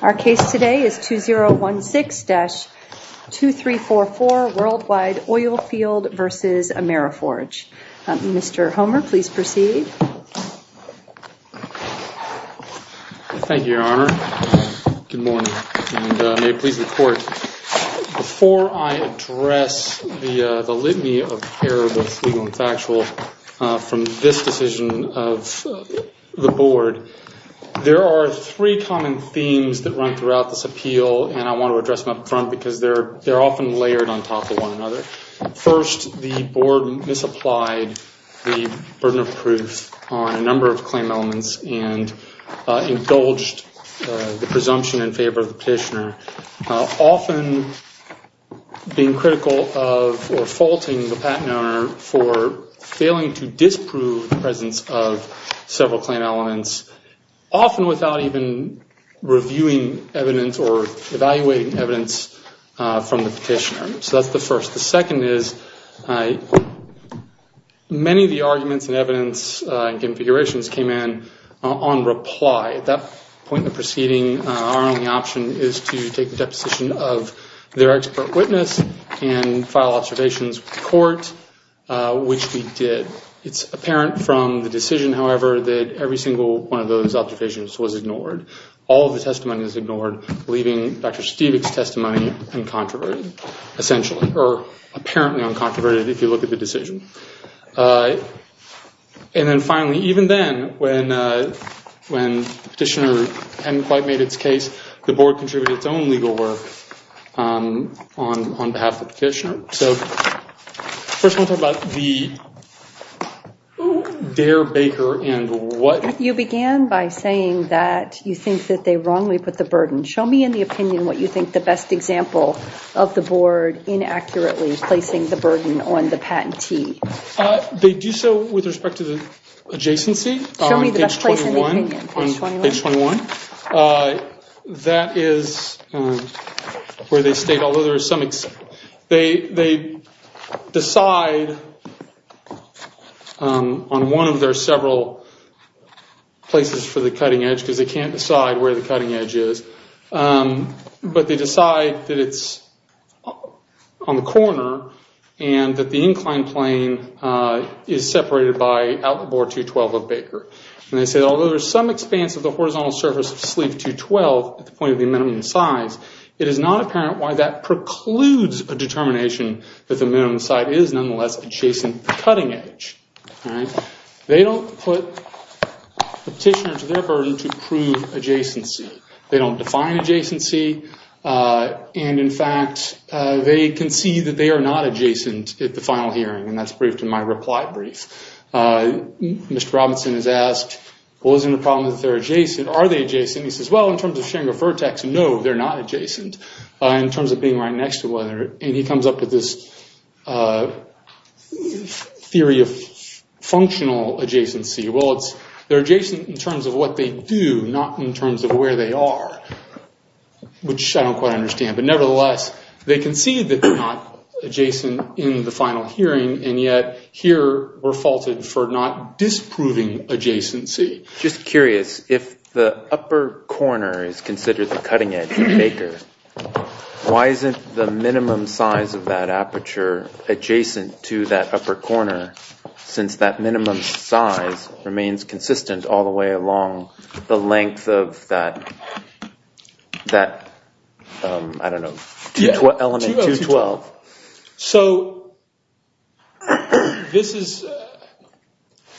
Our case today is 2016-2344 Worldwide Oilfield v. Ameriforge. Mr. Homer, please proceed. Good morning, and may it please the Court, before I address the litany of error, both legal and factual, from this decision of the Board, there are three common themes that run throughout this appeal, and I want to address them up front because they're often layered on top of one another. First, the Board misapplied the burden of proof on a number of claim elements and indulged the presumption in favor of the petitioner, often being critical of or faulting the patent owner for failing to disprove the presence of several claim elements, often without even reviewing evidence or evaluating evidence from the petitioner. So that's the first. The second is many of the arguments and evidence and configurations came in on reply. At that point in the proceeding, our only option is to take the deposition of their expert witness and file observations with the Court, which we did. It's apparent from the decision, however, that every single one of those observations was ignored. All of the testimony is ignored, leaving Dr. Stevick's testimony uncontroverted, essentially, or apparently uncontroverted if you look at the decision. And then finally, even then, when the petitioner hadn't quite made its case, the Board contributed its own legal work on behalf of the petitioner. So first I want to talk about the Dare Baker and what— You think that they wrongly put the burden. Show me in the opinion what you think the best example of the Board inaccurately placing the burden on the patentee. They do so with respect to the adjacency. Show me the best place in the opinion, page 21. Page 21. That is where they state, although there is some— They decide on one of their several places for the cutting edge because they can't decide where the cutting edge is. But they decide that it's on the corner and that the incline plane is separated by outboard 212 of Baker. And they say, although there's some expanse of the horizontal surface of sleeve 212 at the point of the minimum size, it is not apparent why that precludes a determination that the minimum size is nonetheless adjacent to the cutting edge. They don't put the petitioner to their burden to prove adjacency. They don't define adjacency. And, in fact, they concede that they are not adjacent at the final hearing, and that's briefed in my reply brief. Mr. Robinson is asked, well, isn't the problem that they're adjacent? Are they adjacent? He says, well, in terms of Schengen vertex, no, they're not adjacent in terms of being right next to one another. And he comes up with this theory of functional adjacency. Well, they're adjacent in terms of what they do, not in terms of where they are, which I don't quite understand. But, nevertheless, they concede that they're not adjacent in the final hearing, and yet here we're faulted for not disproving adjacency. Just curious, if the upper corner is considered the cutting edge of Baker, why isn't the minimum size of that aperture adjacent to that upper corner, since that minimum size remains consistent all the way along the length of that, I don't know, element 212? So, this is...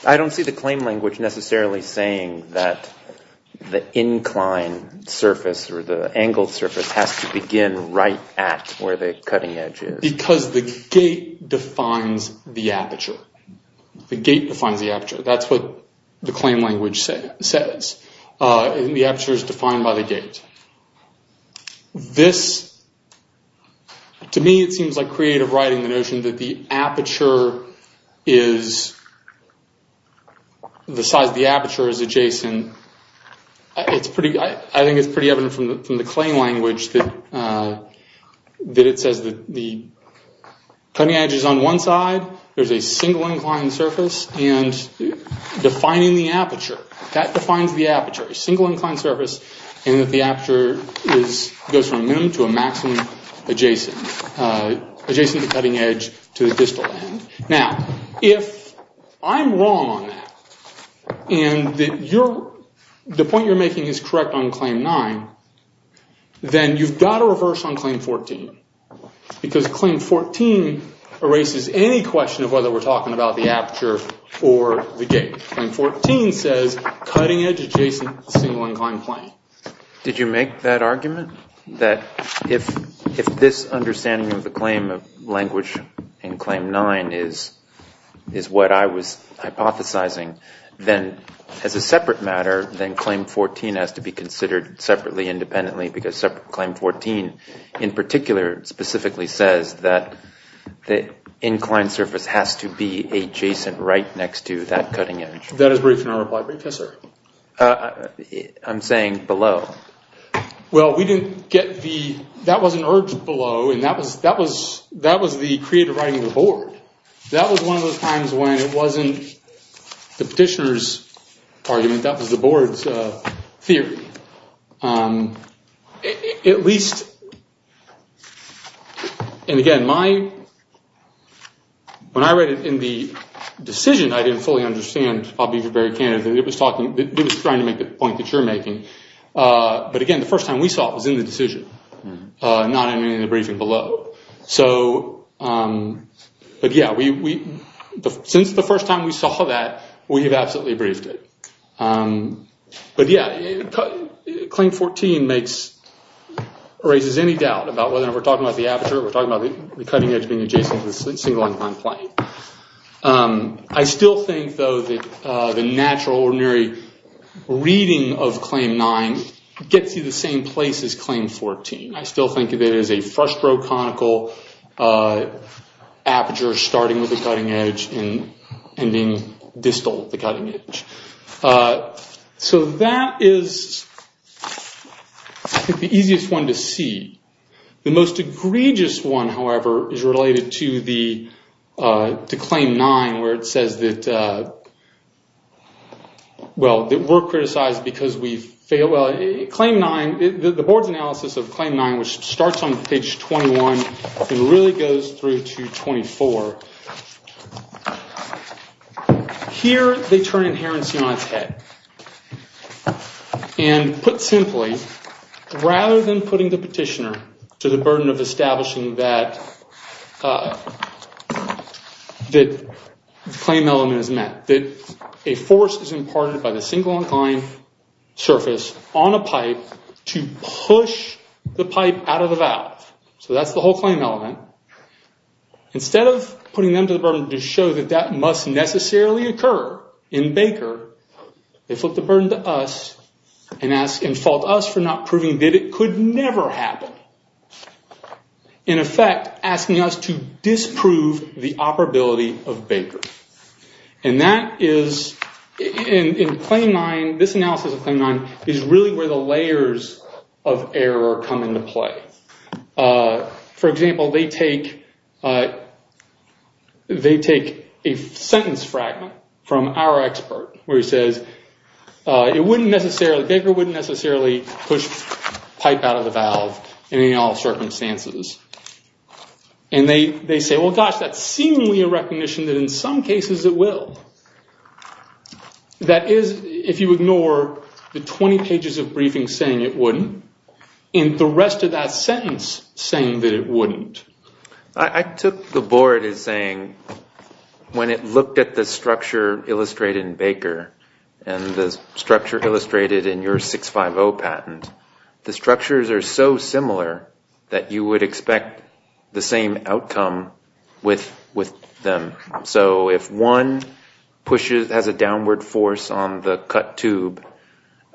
I don't see the claim language necessarily saying that the inclined surface or the angled surface has to begin right at where the cutting edge is. Because the gate defines the aperture. The gate defines the aperture. That's what the claim language says. The aperture is defined by the gate. This, to me, it seems like creative writing, the notion that the aperture is... the size of the aperture is adjacent. I think it's pretty evident from the claim language that it says that the cutting edge is on one side, there's a single inclined surface, and defining the aperture. That defines the aperture, a single inclined surface, and that the aperture goes from minimum to a maximum adjacent, adjacent to the cutting edge to the distal end. Now, if I'm wrong on that, and the point you're making is correct on Claim 9, then you've got to reverse on Claim 14, because Claim 14 erases any question of whether we're talking about the aperture or the gate. Claim 14 says, cutting edge adjacent, single inclined plane. Did you make that argument? That if this understanding of the claim of language in Claim 9 is what I was hypothesizing, then as a separate matter, then Claim 14 has to be considered separately, independently, because separate Claim 14, in particular, specifically says that the inclined surface has to be adjacent right next to that cutting edge. That is brief in our reply brief. Yes, sir. I'm saying below. Well, we didn't get the, that wasn't urged below, and that was the creative writing of the board. That was one of those times when it wasn't the petitioner's argument, that was the board's theory. At least, and again, my, when I read it in the decision, I didn't fully understand, I'll be very candid, it was talking, it was trying to make the point that you're making. But again, the first time we saw it was in the decision, not in the briefing below. So, but yeah, we, since the first time we saw that, we have absolutely briefed it. But yeah, Claim 14 makes, erases any doubt about whether we're talking about the aperture, we're talking about the cutting edge being adjacent to the single inclined plane. I still think, though, that the natural, ordinary reading of Claim 9 gets you the same place as Claim 14. I still think of it as a frustro-conical aperture starting with the cutting edge and ending distal at the cutting edge. So that is the easiest one to see. The most egregious one, however, is related to the, to Claim 9, where it says that, well, that we're criticized because we failed, well, Claim 9, the board's analysis of Claim 9, which starts on page 21 and really goes through to 24. Here, they turn inherency on its head. And put simply, rather than putting the petitioner to the burden of establishing that, that claim element is met, that a force is imparted by the single inclined surface on a pipe to push the pipe out of the valve. So that's the whole claim element. Instead of putting them to the burden to show that that must necessarily occur in Baker, they flip the burden to us and fault us for not proving that it could never happen. In effect, asking us to disprove the operability of Baker. And that is, in Claim 9, this analysis of Claim 9, is really where the layers of error come into play. For example, they take a sentence fragment from our expert, where he says, it wouldn't necessarily, Baker wouldn't necessarily push pipe out of the valve in any and all circumstances. And they say, well, gosh, that's seemingly a recognition that in some cases it will. That is, if you ignore the 20 pages of briefing saying it wouldn't, and the rest of that sentence saying that it wouldn't. I took the board as saying, when it looked at the structure illustrated in Baker, and the structure illustrated in your 650 patent, the structures are so similar that you would expect the same outcome with them. So if one pushes, has a downward force on the cut tube,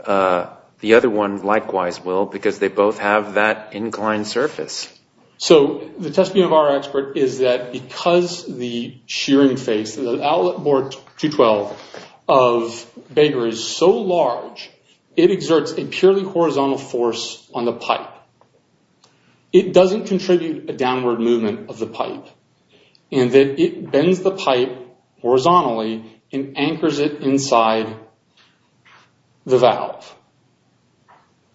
the other one likewise will, because they both have that inclined surface. So the testimony of our expert is that because the shearing face, the outlet board 212 of Baker is so large, it exerts a purely horizontal force on the pipe. It doesn't contribute a downward movement of the pipe. And it bends the pipe horizontally and anchors it inside the valve.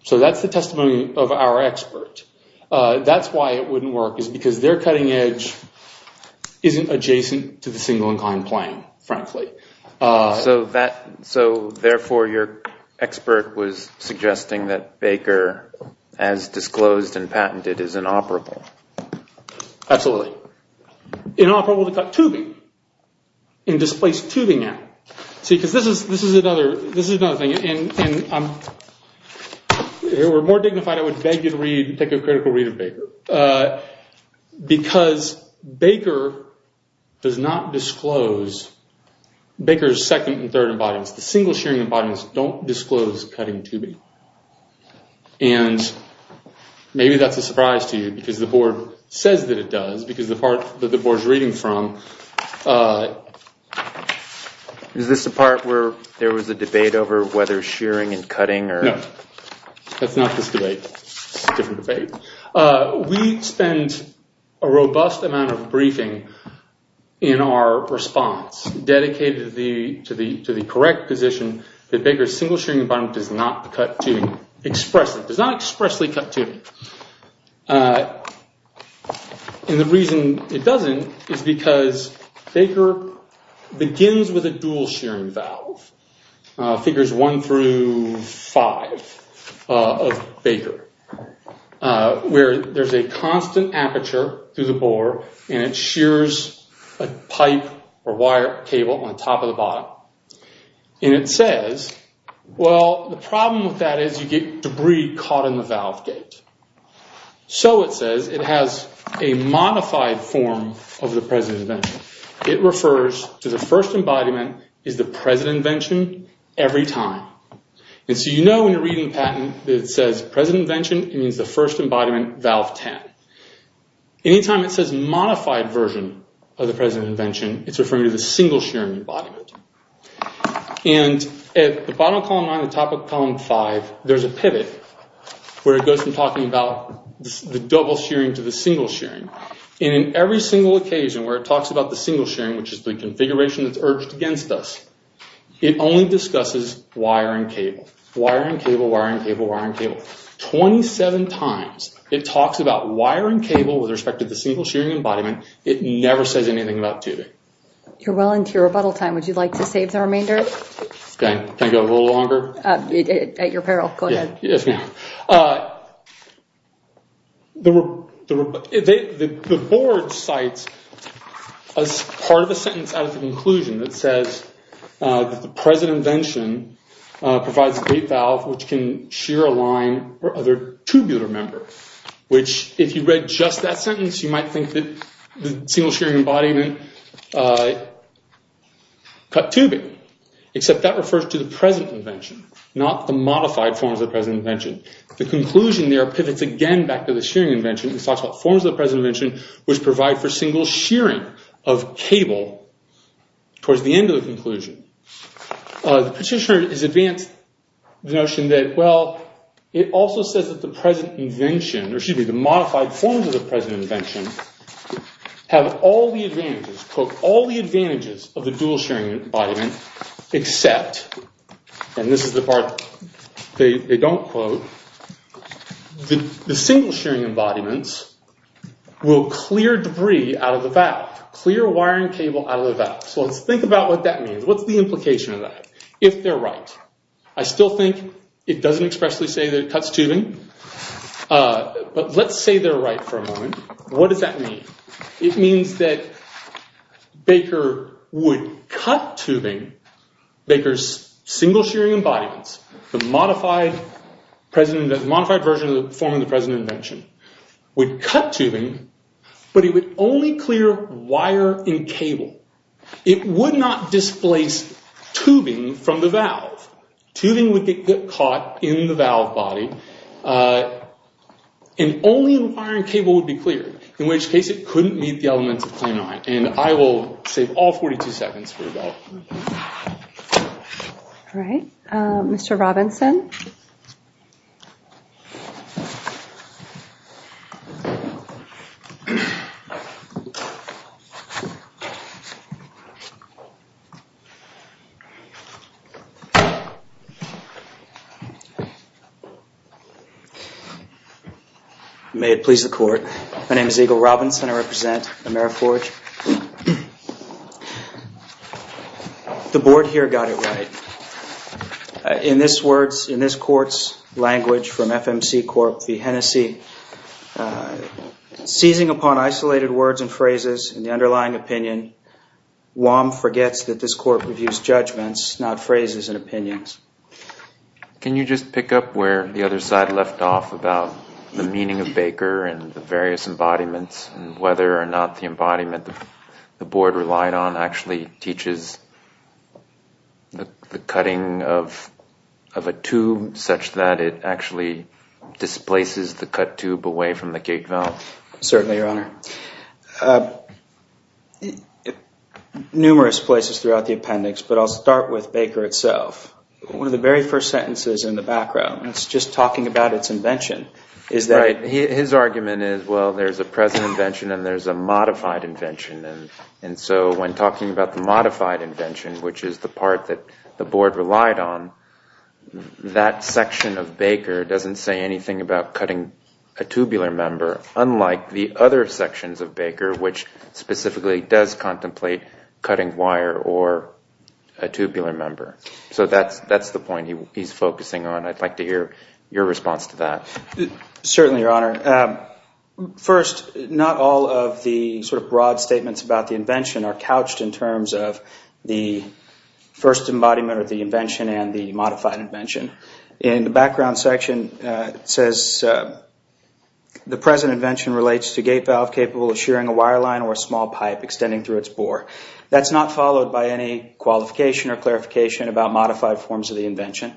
So that's the testimony of our expert. That's why it wouldn't work, is because their cutting edge isn't adjacent to the single inclined plane, frankly. So therefore your expert was suggesting that Baker, as disclosed and patented, is inoperable. Absolutely. Inoperable to cut tubing and displace tubing at. See, because this is another thing. If it were more dignified, I would beg you to take a critical read of Baker. Because Baker does not disclose Baker's second and third embodiments. The single shearing embodiments don't disclose cutting tubing. And maybe that's a surprise to you, because the board says that it does. Because the part that the board's reading from... Is this the part where there was a debate over whether shearing and cutting or... No. That's not this debate. It's a different debate. We spend a robust amount of briefing in our response, dedicated to the correct position that Baker's single shearing embodiment does not expressly cut tubing. And the reason it doesn't is because Baker begins with a dual shearing valve. Figures one through five of Baker. Where there's a constant aperture through the bore and it shears a pipe or wire cable on top of the bottom. And it says, well, the problem with that is you get debris caught in the valve gate. So it says, it has a modified form of the President Invention. It refers to the first embodiment is the President Invention every time. And so you know when you're reading the patent that it says, President Invention, it means the first embodiment, valve 10. Anytime it says modified version of the President Invention, it's referring to the single shearing embodiment. And at the bottom of column nine, the top of column five, there's a pivot where it goes from talking about the double shearing to the single shearing. And in every single occasion where it talks about the single shearing, which is the configuration that's urged against us, it only discusses wire and cable. Wire and cable, wire and cable, wire and cable. 27 times it talks about wire and cable with respect to the single shearing embodiment. It never says anything about tubing. You're well into your rebuttal time. Would you like to save the remainder? Can I go a little longer? At your peril, go ahead. Yes, ma'am. The board cites as part of a sentence out of the conclusion that says that the President Invention provides a gate valve which can shear a line or other tubular member. Which if you read just that sentence, you might think that the single shearing embodiment can cut tubing. Except that refers to the present invention, not the modified forms of the present invention. The conclusion there pivots again back to the shearing invention. It talks about forms of the present invention, which provide for single shearing of cable towards the end of the conclusion. The petitioner has advanced the notion that, well, it also says that the present invention, or excuse me, the modified forms of the present invention have all the advantages, quote, all the advantages of the dual shearing embodiment except, and this is the part they don't quote, the single shearing embodiments will clear debris out of the valve, clear wiring cable out of the valve. So let's think about what that means. What's the implication of that? If they're right, I still think it doesn't expressly say that it cuts tubing. But let's say they're right for a moment. What does that mean? It means that Baker would cut tubing, Baker's single shearing embodiments, the modified version of the form of the present invention, would cut tubing, but it would only clear wire and cable. Tubing would get caught in the valve body and only the wiring cable would be clear, in which case it couldn't meet the elements of claimant. And I will save all 42 seconds for that. All right. Mr. Robinson. May it please the court. My name is Eagle Robinson. I represent AmeriForge. The board here got it right. In this words, in this court's language from FMC Corp. v. Hennessey, seizing upon isolated words and phrases and the underlying opinion, Wam forgets that this court reviews judgments, not phrases and opinions. Can you just pick up where the other side left off about the meaning of Baker and the various embodiments and whether or not the embodiment the board relied on actually teaches the cutting of a tube such that it actually displaces the cut tube away from the gate valve? Certainly, Your Honor. Numerous places throughout the appendix, but I'll start with Baker itself. One of the very first sentences in the background, it's just talking about its invention, is that Right. His argument is, well, there's a present invention and there's a modified invention. And so when talking about the modified invention, which is the part that the board relied on, that section of Baker doesn't say anything about cutting a tubular member, unlike the other sections of Baker, which specifically does contemplate cutting wire or a tubular member. So that's the point he's focusing on. I'd like to hear your response to that. Certainly, Your Honor. First, not all of the sort of broad statements about the invention are couched in terms of the first embodiment or the invention and the modified invention. In the background section, it says, The present invention relates to a gate valve capable of shearing a wire line or a small pipe extending through its bore. That's not followed by any qualification or clarification about modified forms of the invention.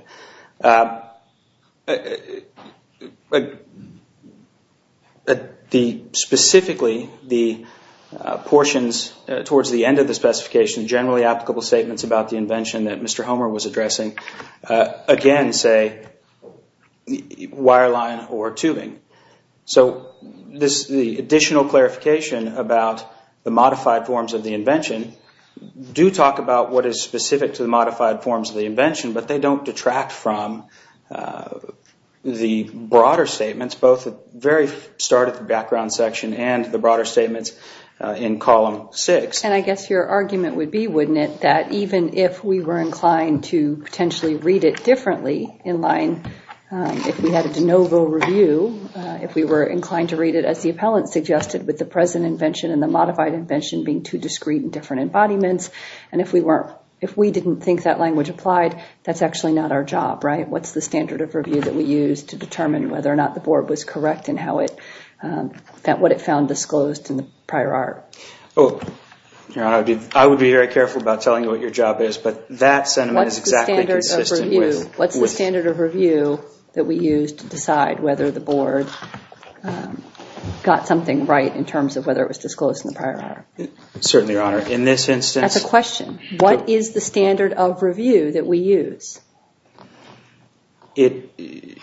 Specifically, the portions towards the end of the specification, generally applicable statements about the invention that Mr. Homer was addressing, again, say wire line or tubing. So the additional clarification about the modified forms of the invention do talk about what is specific to the modified forms of the invention, but they don't detract from the broader statements, both at the very start of the background section and the broader statements in column six. And I guess your argument would be, wouldn't it, that even if we were inclined to potentially read it differently in line, if we had a de novo review, if we were inclined to read it, as the appellant suggested, with the present invention and the modified invention being two discrete and different embodiments, and if we didn't think that language applied, that's actually not our job, right? What's the standard of review that we use to determine whether or not the board was correct in what it found disclosed in the prior art? Your Honor, I would be very careful about telling you what your job is, but that sentiment is exactly consistent with— What's the standard of review that we use to decide whether the board got something right in terms of whether it was disclosed in the prior art? Certainly, Your Honor. In this instance— That's a question. What is the standard of review that we use? It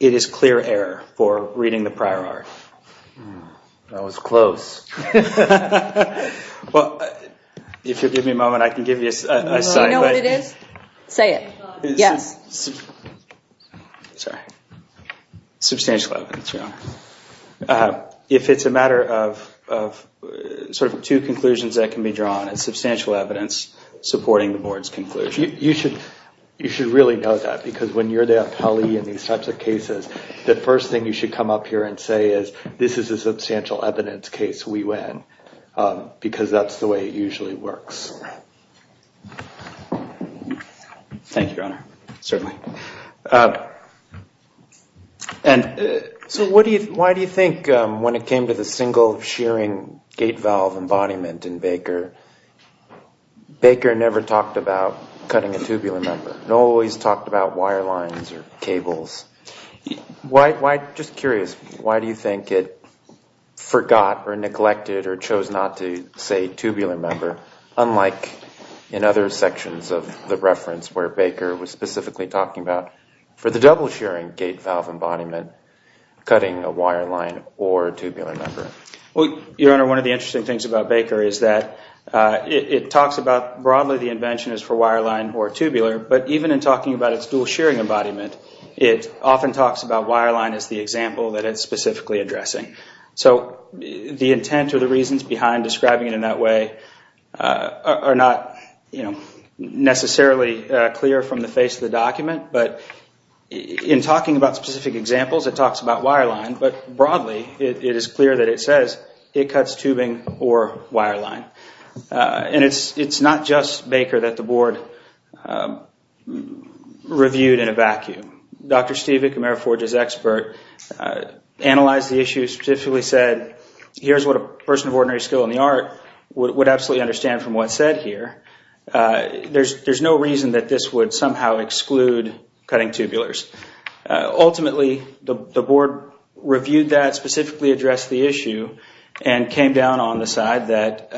is clear error for reading the prior art. That was close. Well, if you'll give me a moment, I can give you a sign. Do you know what it is? Say it. Substantial evidence, Your Honor. If it's a matter of two conclusions that can be drawn, it's substantial evidence supporting the board's conclusion. You should really know that, because when you're the appellee in these types of cases, the first thing you should come up here and say is, this is a substantial evidence case. We win, because that's the way it usually works. Thank you, Your Honor. Certainly. So why do you think when it came to the single shearing gate valve embodiment in Baker, Baker never talked about cutting a tubular member? It always talked about wire lines or cables. Just curious, why do you think it forgot or neglected or chose not to say tubular member, unlike in other sections of the reference where Baker was specifically talking about, for the double shearing gate valve embodiment, cutting a wire line or tubular member? Your Honor, one of the interesting things about Baker is that it talks about broadly the invention is for wire line or tubular, but even in talking about its dual shearing embodiment, it often talks about wire line as the example that it's specifically addressing. So the intent or the reasons behind describing it in that way are not necessarily clear from the face of the document, but in talking about specific examples, it talks about wire line, but broadly it is clear that it says it cuts tubing or wire line. And it's not just Baker that the Board reviewed in a vacuum. Dr. Steve Vick, AmeriForge's expert, analyzed the issue, specifically said, here's what a person of ordinary skill in the art would absolutely understand from what's said here. There's no reason that this would somehow exclude cutting tubulars. Ultimately, the Board reviewed that, specifically addressed the issue, and came down on the side that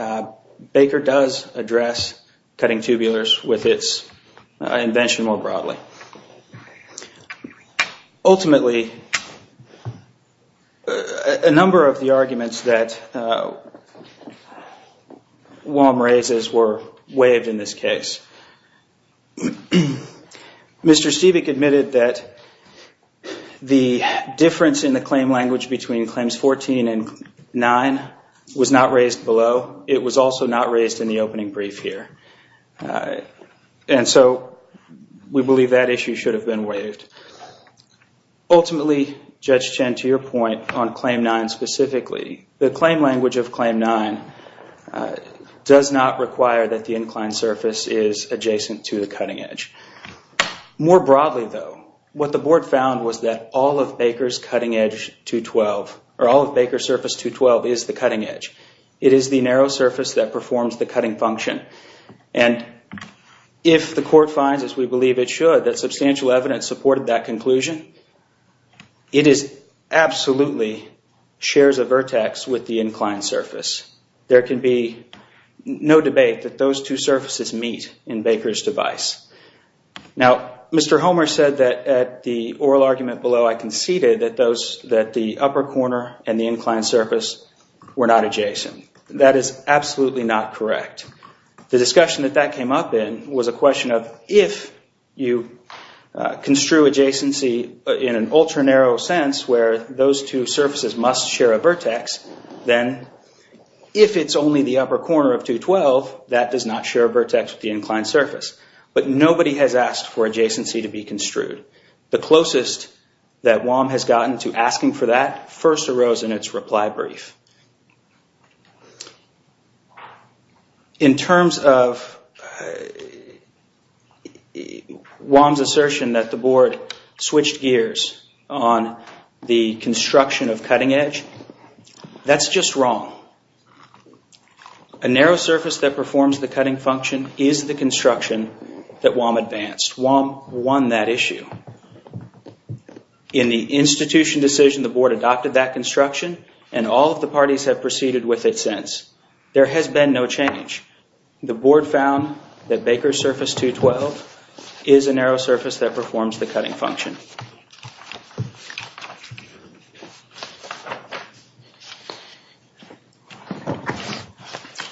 Baker does address cutting tubulars with its invention more broadly. Ultimately, a number of the arguments that Wom raises were waived in this case. Mr. Stevick admitted that the difference in the claim language between Claims 14 and 9 was not raised below. It was also not raised in the opening brief here. And so we believe that issue should have been waived. Ultimately, Judge Chen, to your point on Claim 9 specifically, the claim language of Claim 9 does not require that the inclined surface is adjacent to the cutting edge. More broadly, though, what the Board found was that all of Baker's surface 212 is the cutting edge. It is the narrow surface that performs the cutting function. And if the Court finds, as we believe it should, that substantial evidence supported that conclusion, it absolutely shares a vertex with the inclined surface. There can be no debate that those two surfaces meet in Baker's device. Now, Mr. Homer said that at the oral argument below, I conceded that the upper corner and the inclined surface were not adjacent. That is absolutely not correct. The discussion that that came up in was a question of if you construe adjacency in an ultra-narrow sense where those two surfaces must share a vertex, then if it's only the upper corner of 212, that does not share a vertex with the inclined surface. But nobody has asked for adjacency to be construed. The closest that WAM has gotten to asking for that first arose in its reply brief. In terms of WAM's assertion that the Board switched gears on the construction of cutting edge, that's just wrong. A narrow surface that performs the cutting function is the construction that WAM advanced. WAM won that issue. In the institution decision, the Board adopted that construction, and all of the parties have proceeded with it since. There has been no change. The Board found that Baker's surface 212 is a narrow surface that performs the cutting function.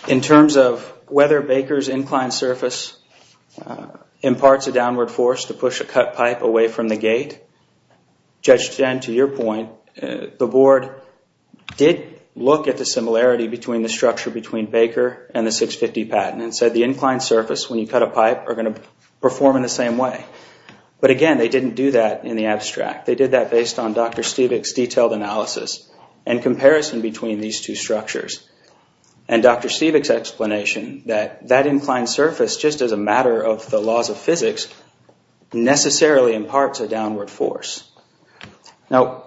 In terms of whether Baker's inclined surface imparts a downward force to push a cut pipe away from the gate, Judge Jen, to your point, the Board did look at the similarity between the structure between Baker and the 650 patent and said the inclined surface, when you cut a pipe, are going to perform in the same way. But again, they didn't do that. They did that based on Dr. Stevick's detailed analysis and comparison between these two structures. And Dr. Stevick's explanation that that inclined surface, just as a matter of the laws of physics, necessarily imparts a downward force. Now,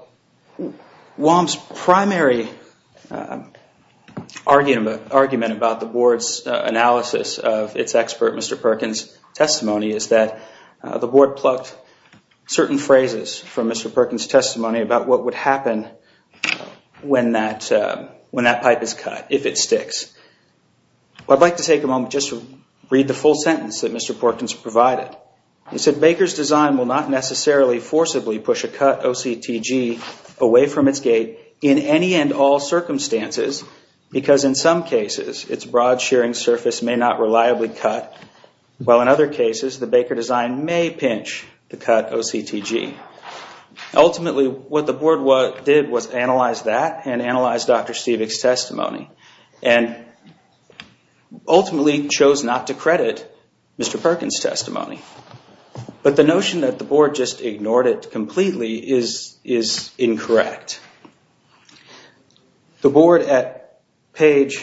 WAM's primary argument about the Board's analysis of its expert, Mr. Perkins' testimony, is that the Board plucked certain phrases from Mr. Perkins' testimony about what would happen when that pipe is cut, if it sticks. I'd like to take a moment just to read the full sentence that Mr. Perkins provided. He said, Baker's design will not necessarily forcibly push a cut OCTG away from its gate in any and all circumstances, because in some cases, its broad shearing surface may not reliably cut, while in other cases, the Baker design may pinch to cut OCTG. Ultimately, what the Board did was analyze that and analyze Dr. Stevick's testimony, and ultimately chose not to credit Mr. Perkins' testimony. But the notion that the Board just ignored it completely is incorrect. The Board, at page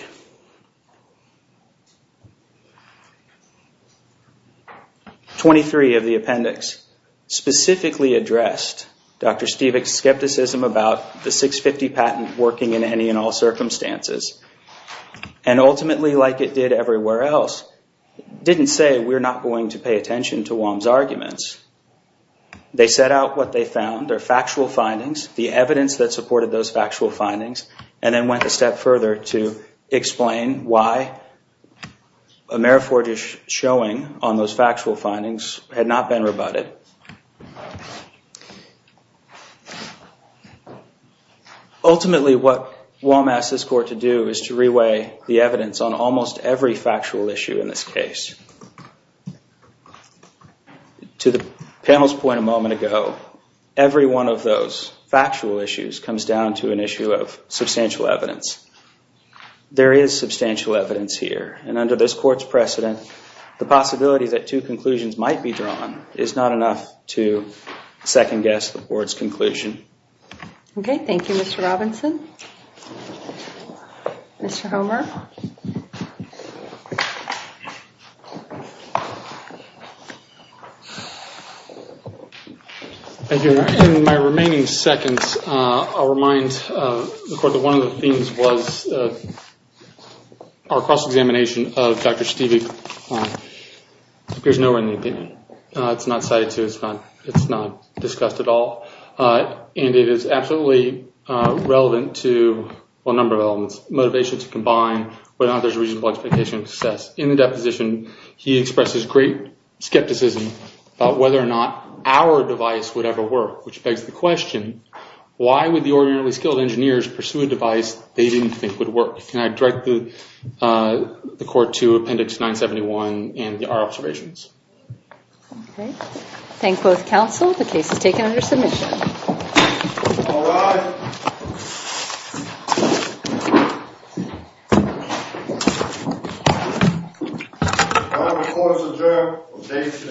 23 of the appendix, specifically addressed Dr. Stevick's skepticism about the 650 patent working in any and all circumstances, and ultimately, like it did everywhere else, didn't say we're not going to pay attention to WAM's arguments. They set out what they found, their factual findings, the evidence that supported those factual findings, and then went a step further to explain why a mere foregish showing on those factual findings had not been rebutted. Ultimately, what WAM asked this Court to do is to re-weigh the evidence on almost every factual issue in this case. To the panel's point a moment ago, every one of those factual issues comes down to an issue of substantial evidence. There is substantial evidence here, and under this Court's precedent, the possibility that two conclusions might be drawn is not enough to second-guess the Board's conclusion. Okay, thank you, Mr. Robinson. Mr. Homer? Thank you. In my remaining seconds, I'll remind the Court that one of the themes was our cross-examination of Dr. Stevick. It appears nowhere in the opinion. It's not cited, too. It's not discussed at all. It is absolutely relevant to a number of elements. Motivation to combine, whether or not there's reasonable expectation of success. In the deposition, he expresses great skepticism about whether or not our device would ever work, which begs the question, why would the ordinarily skilled engineers pursue a device they didn't think would work? Can I direct the Court to Appendix 971 and our observations? Okay, thank both counsel. The case is taken under submission. All rise. Court is adjourned.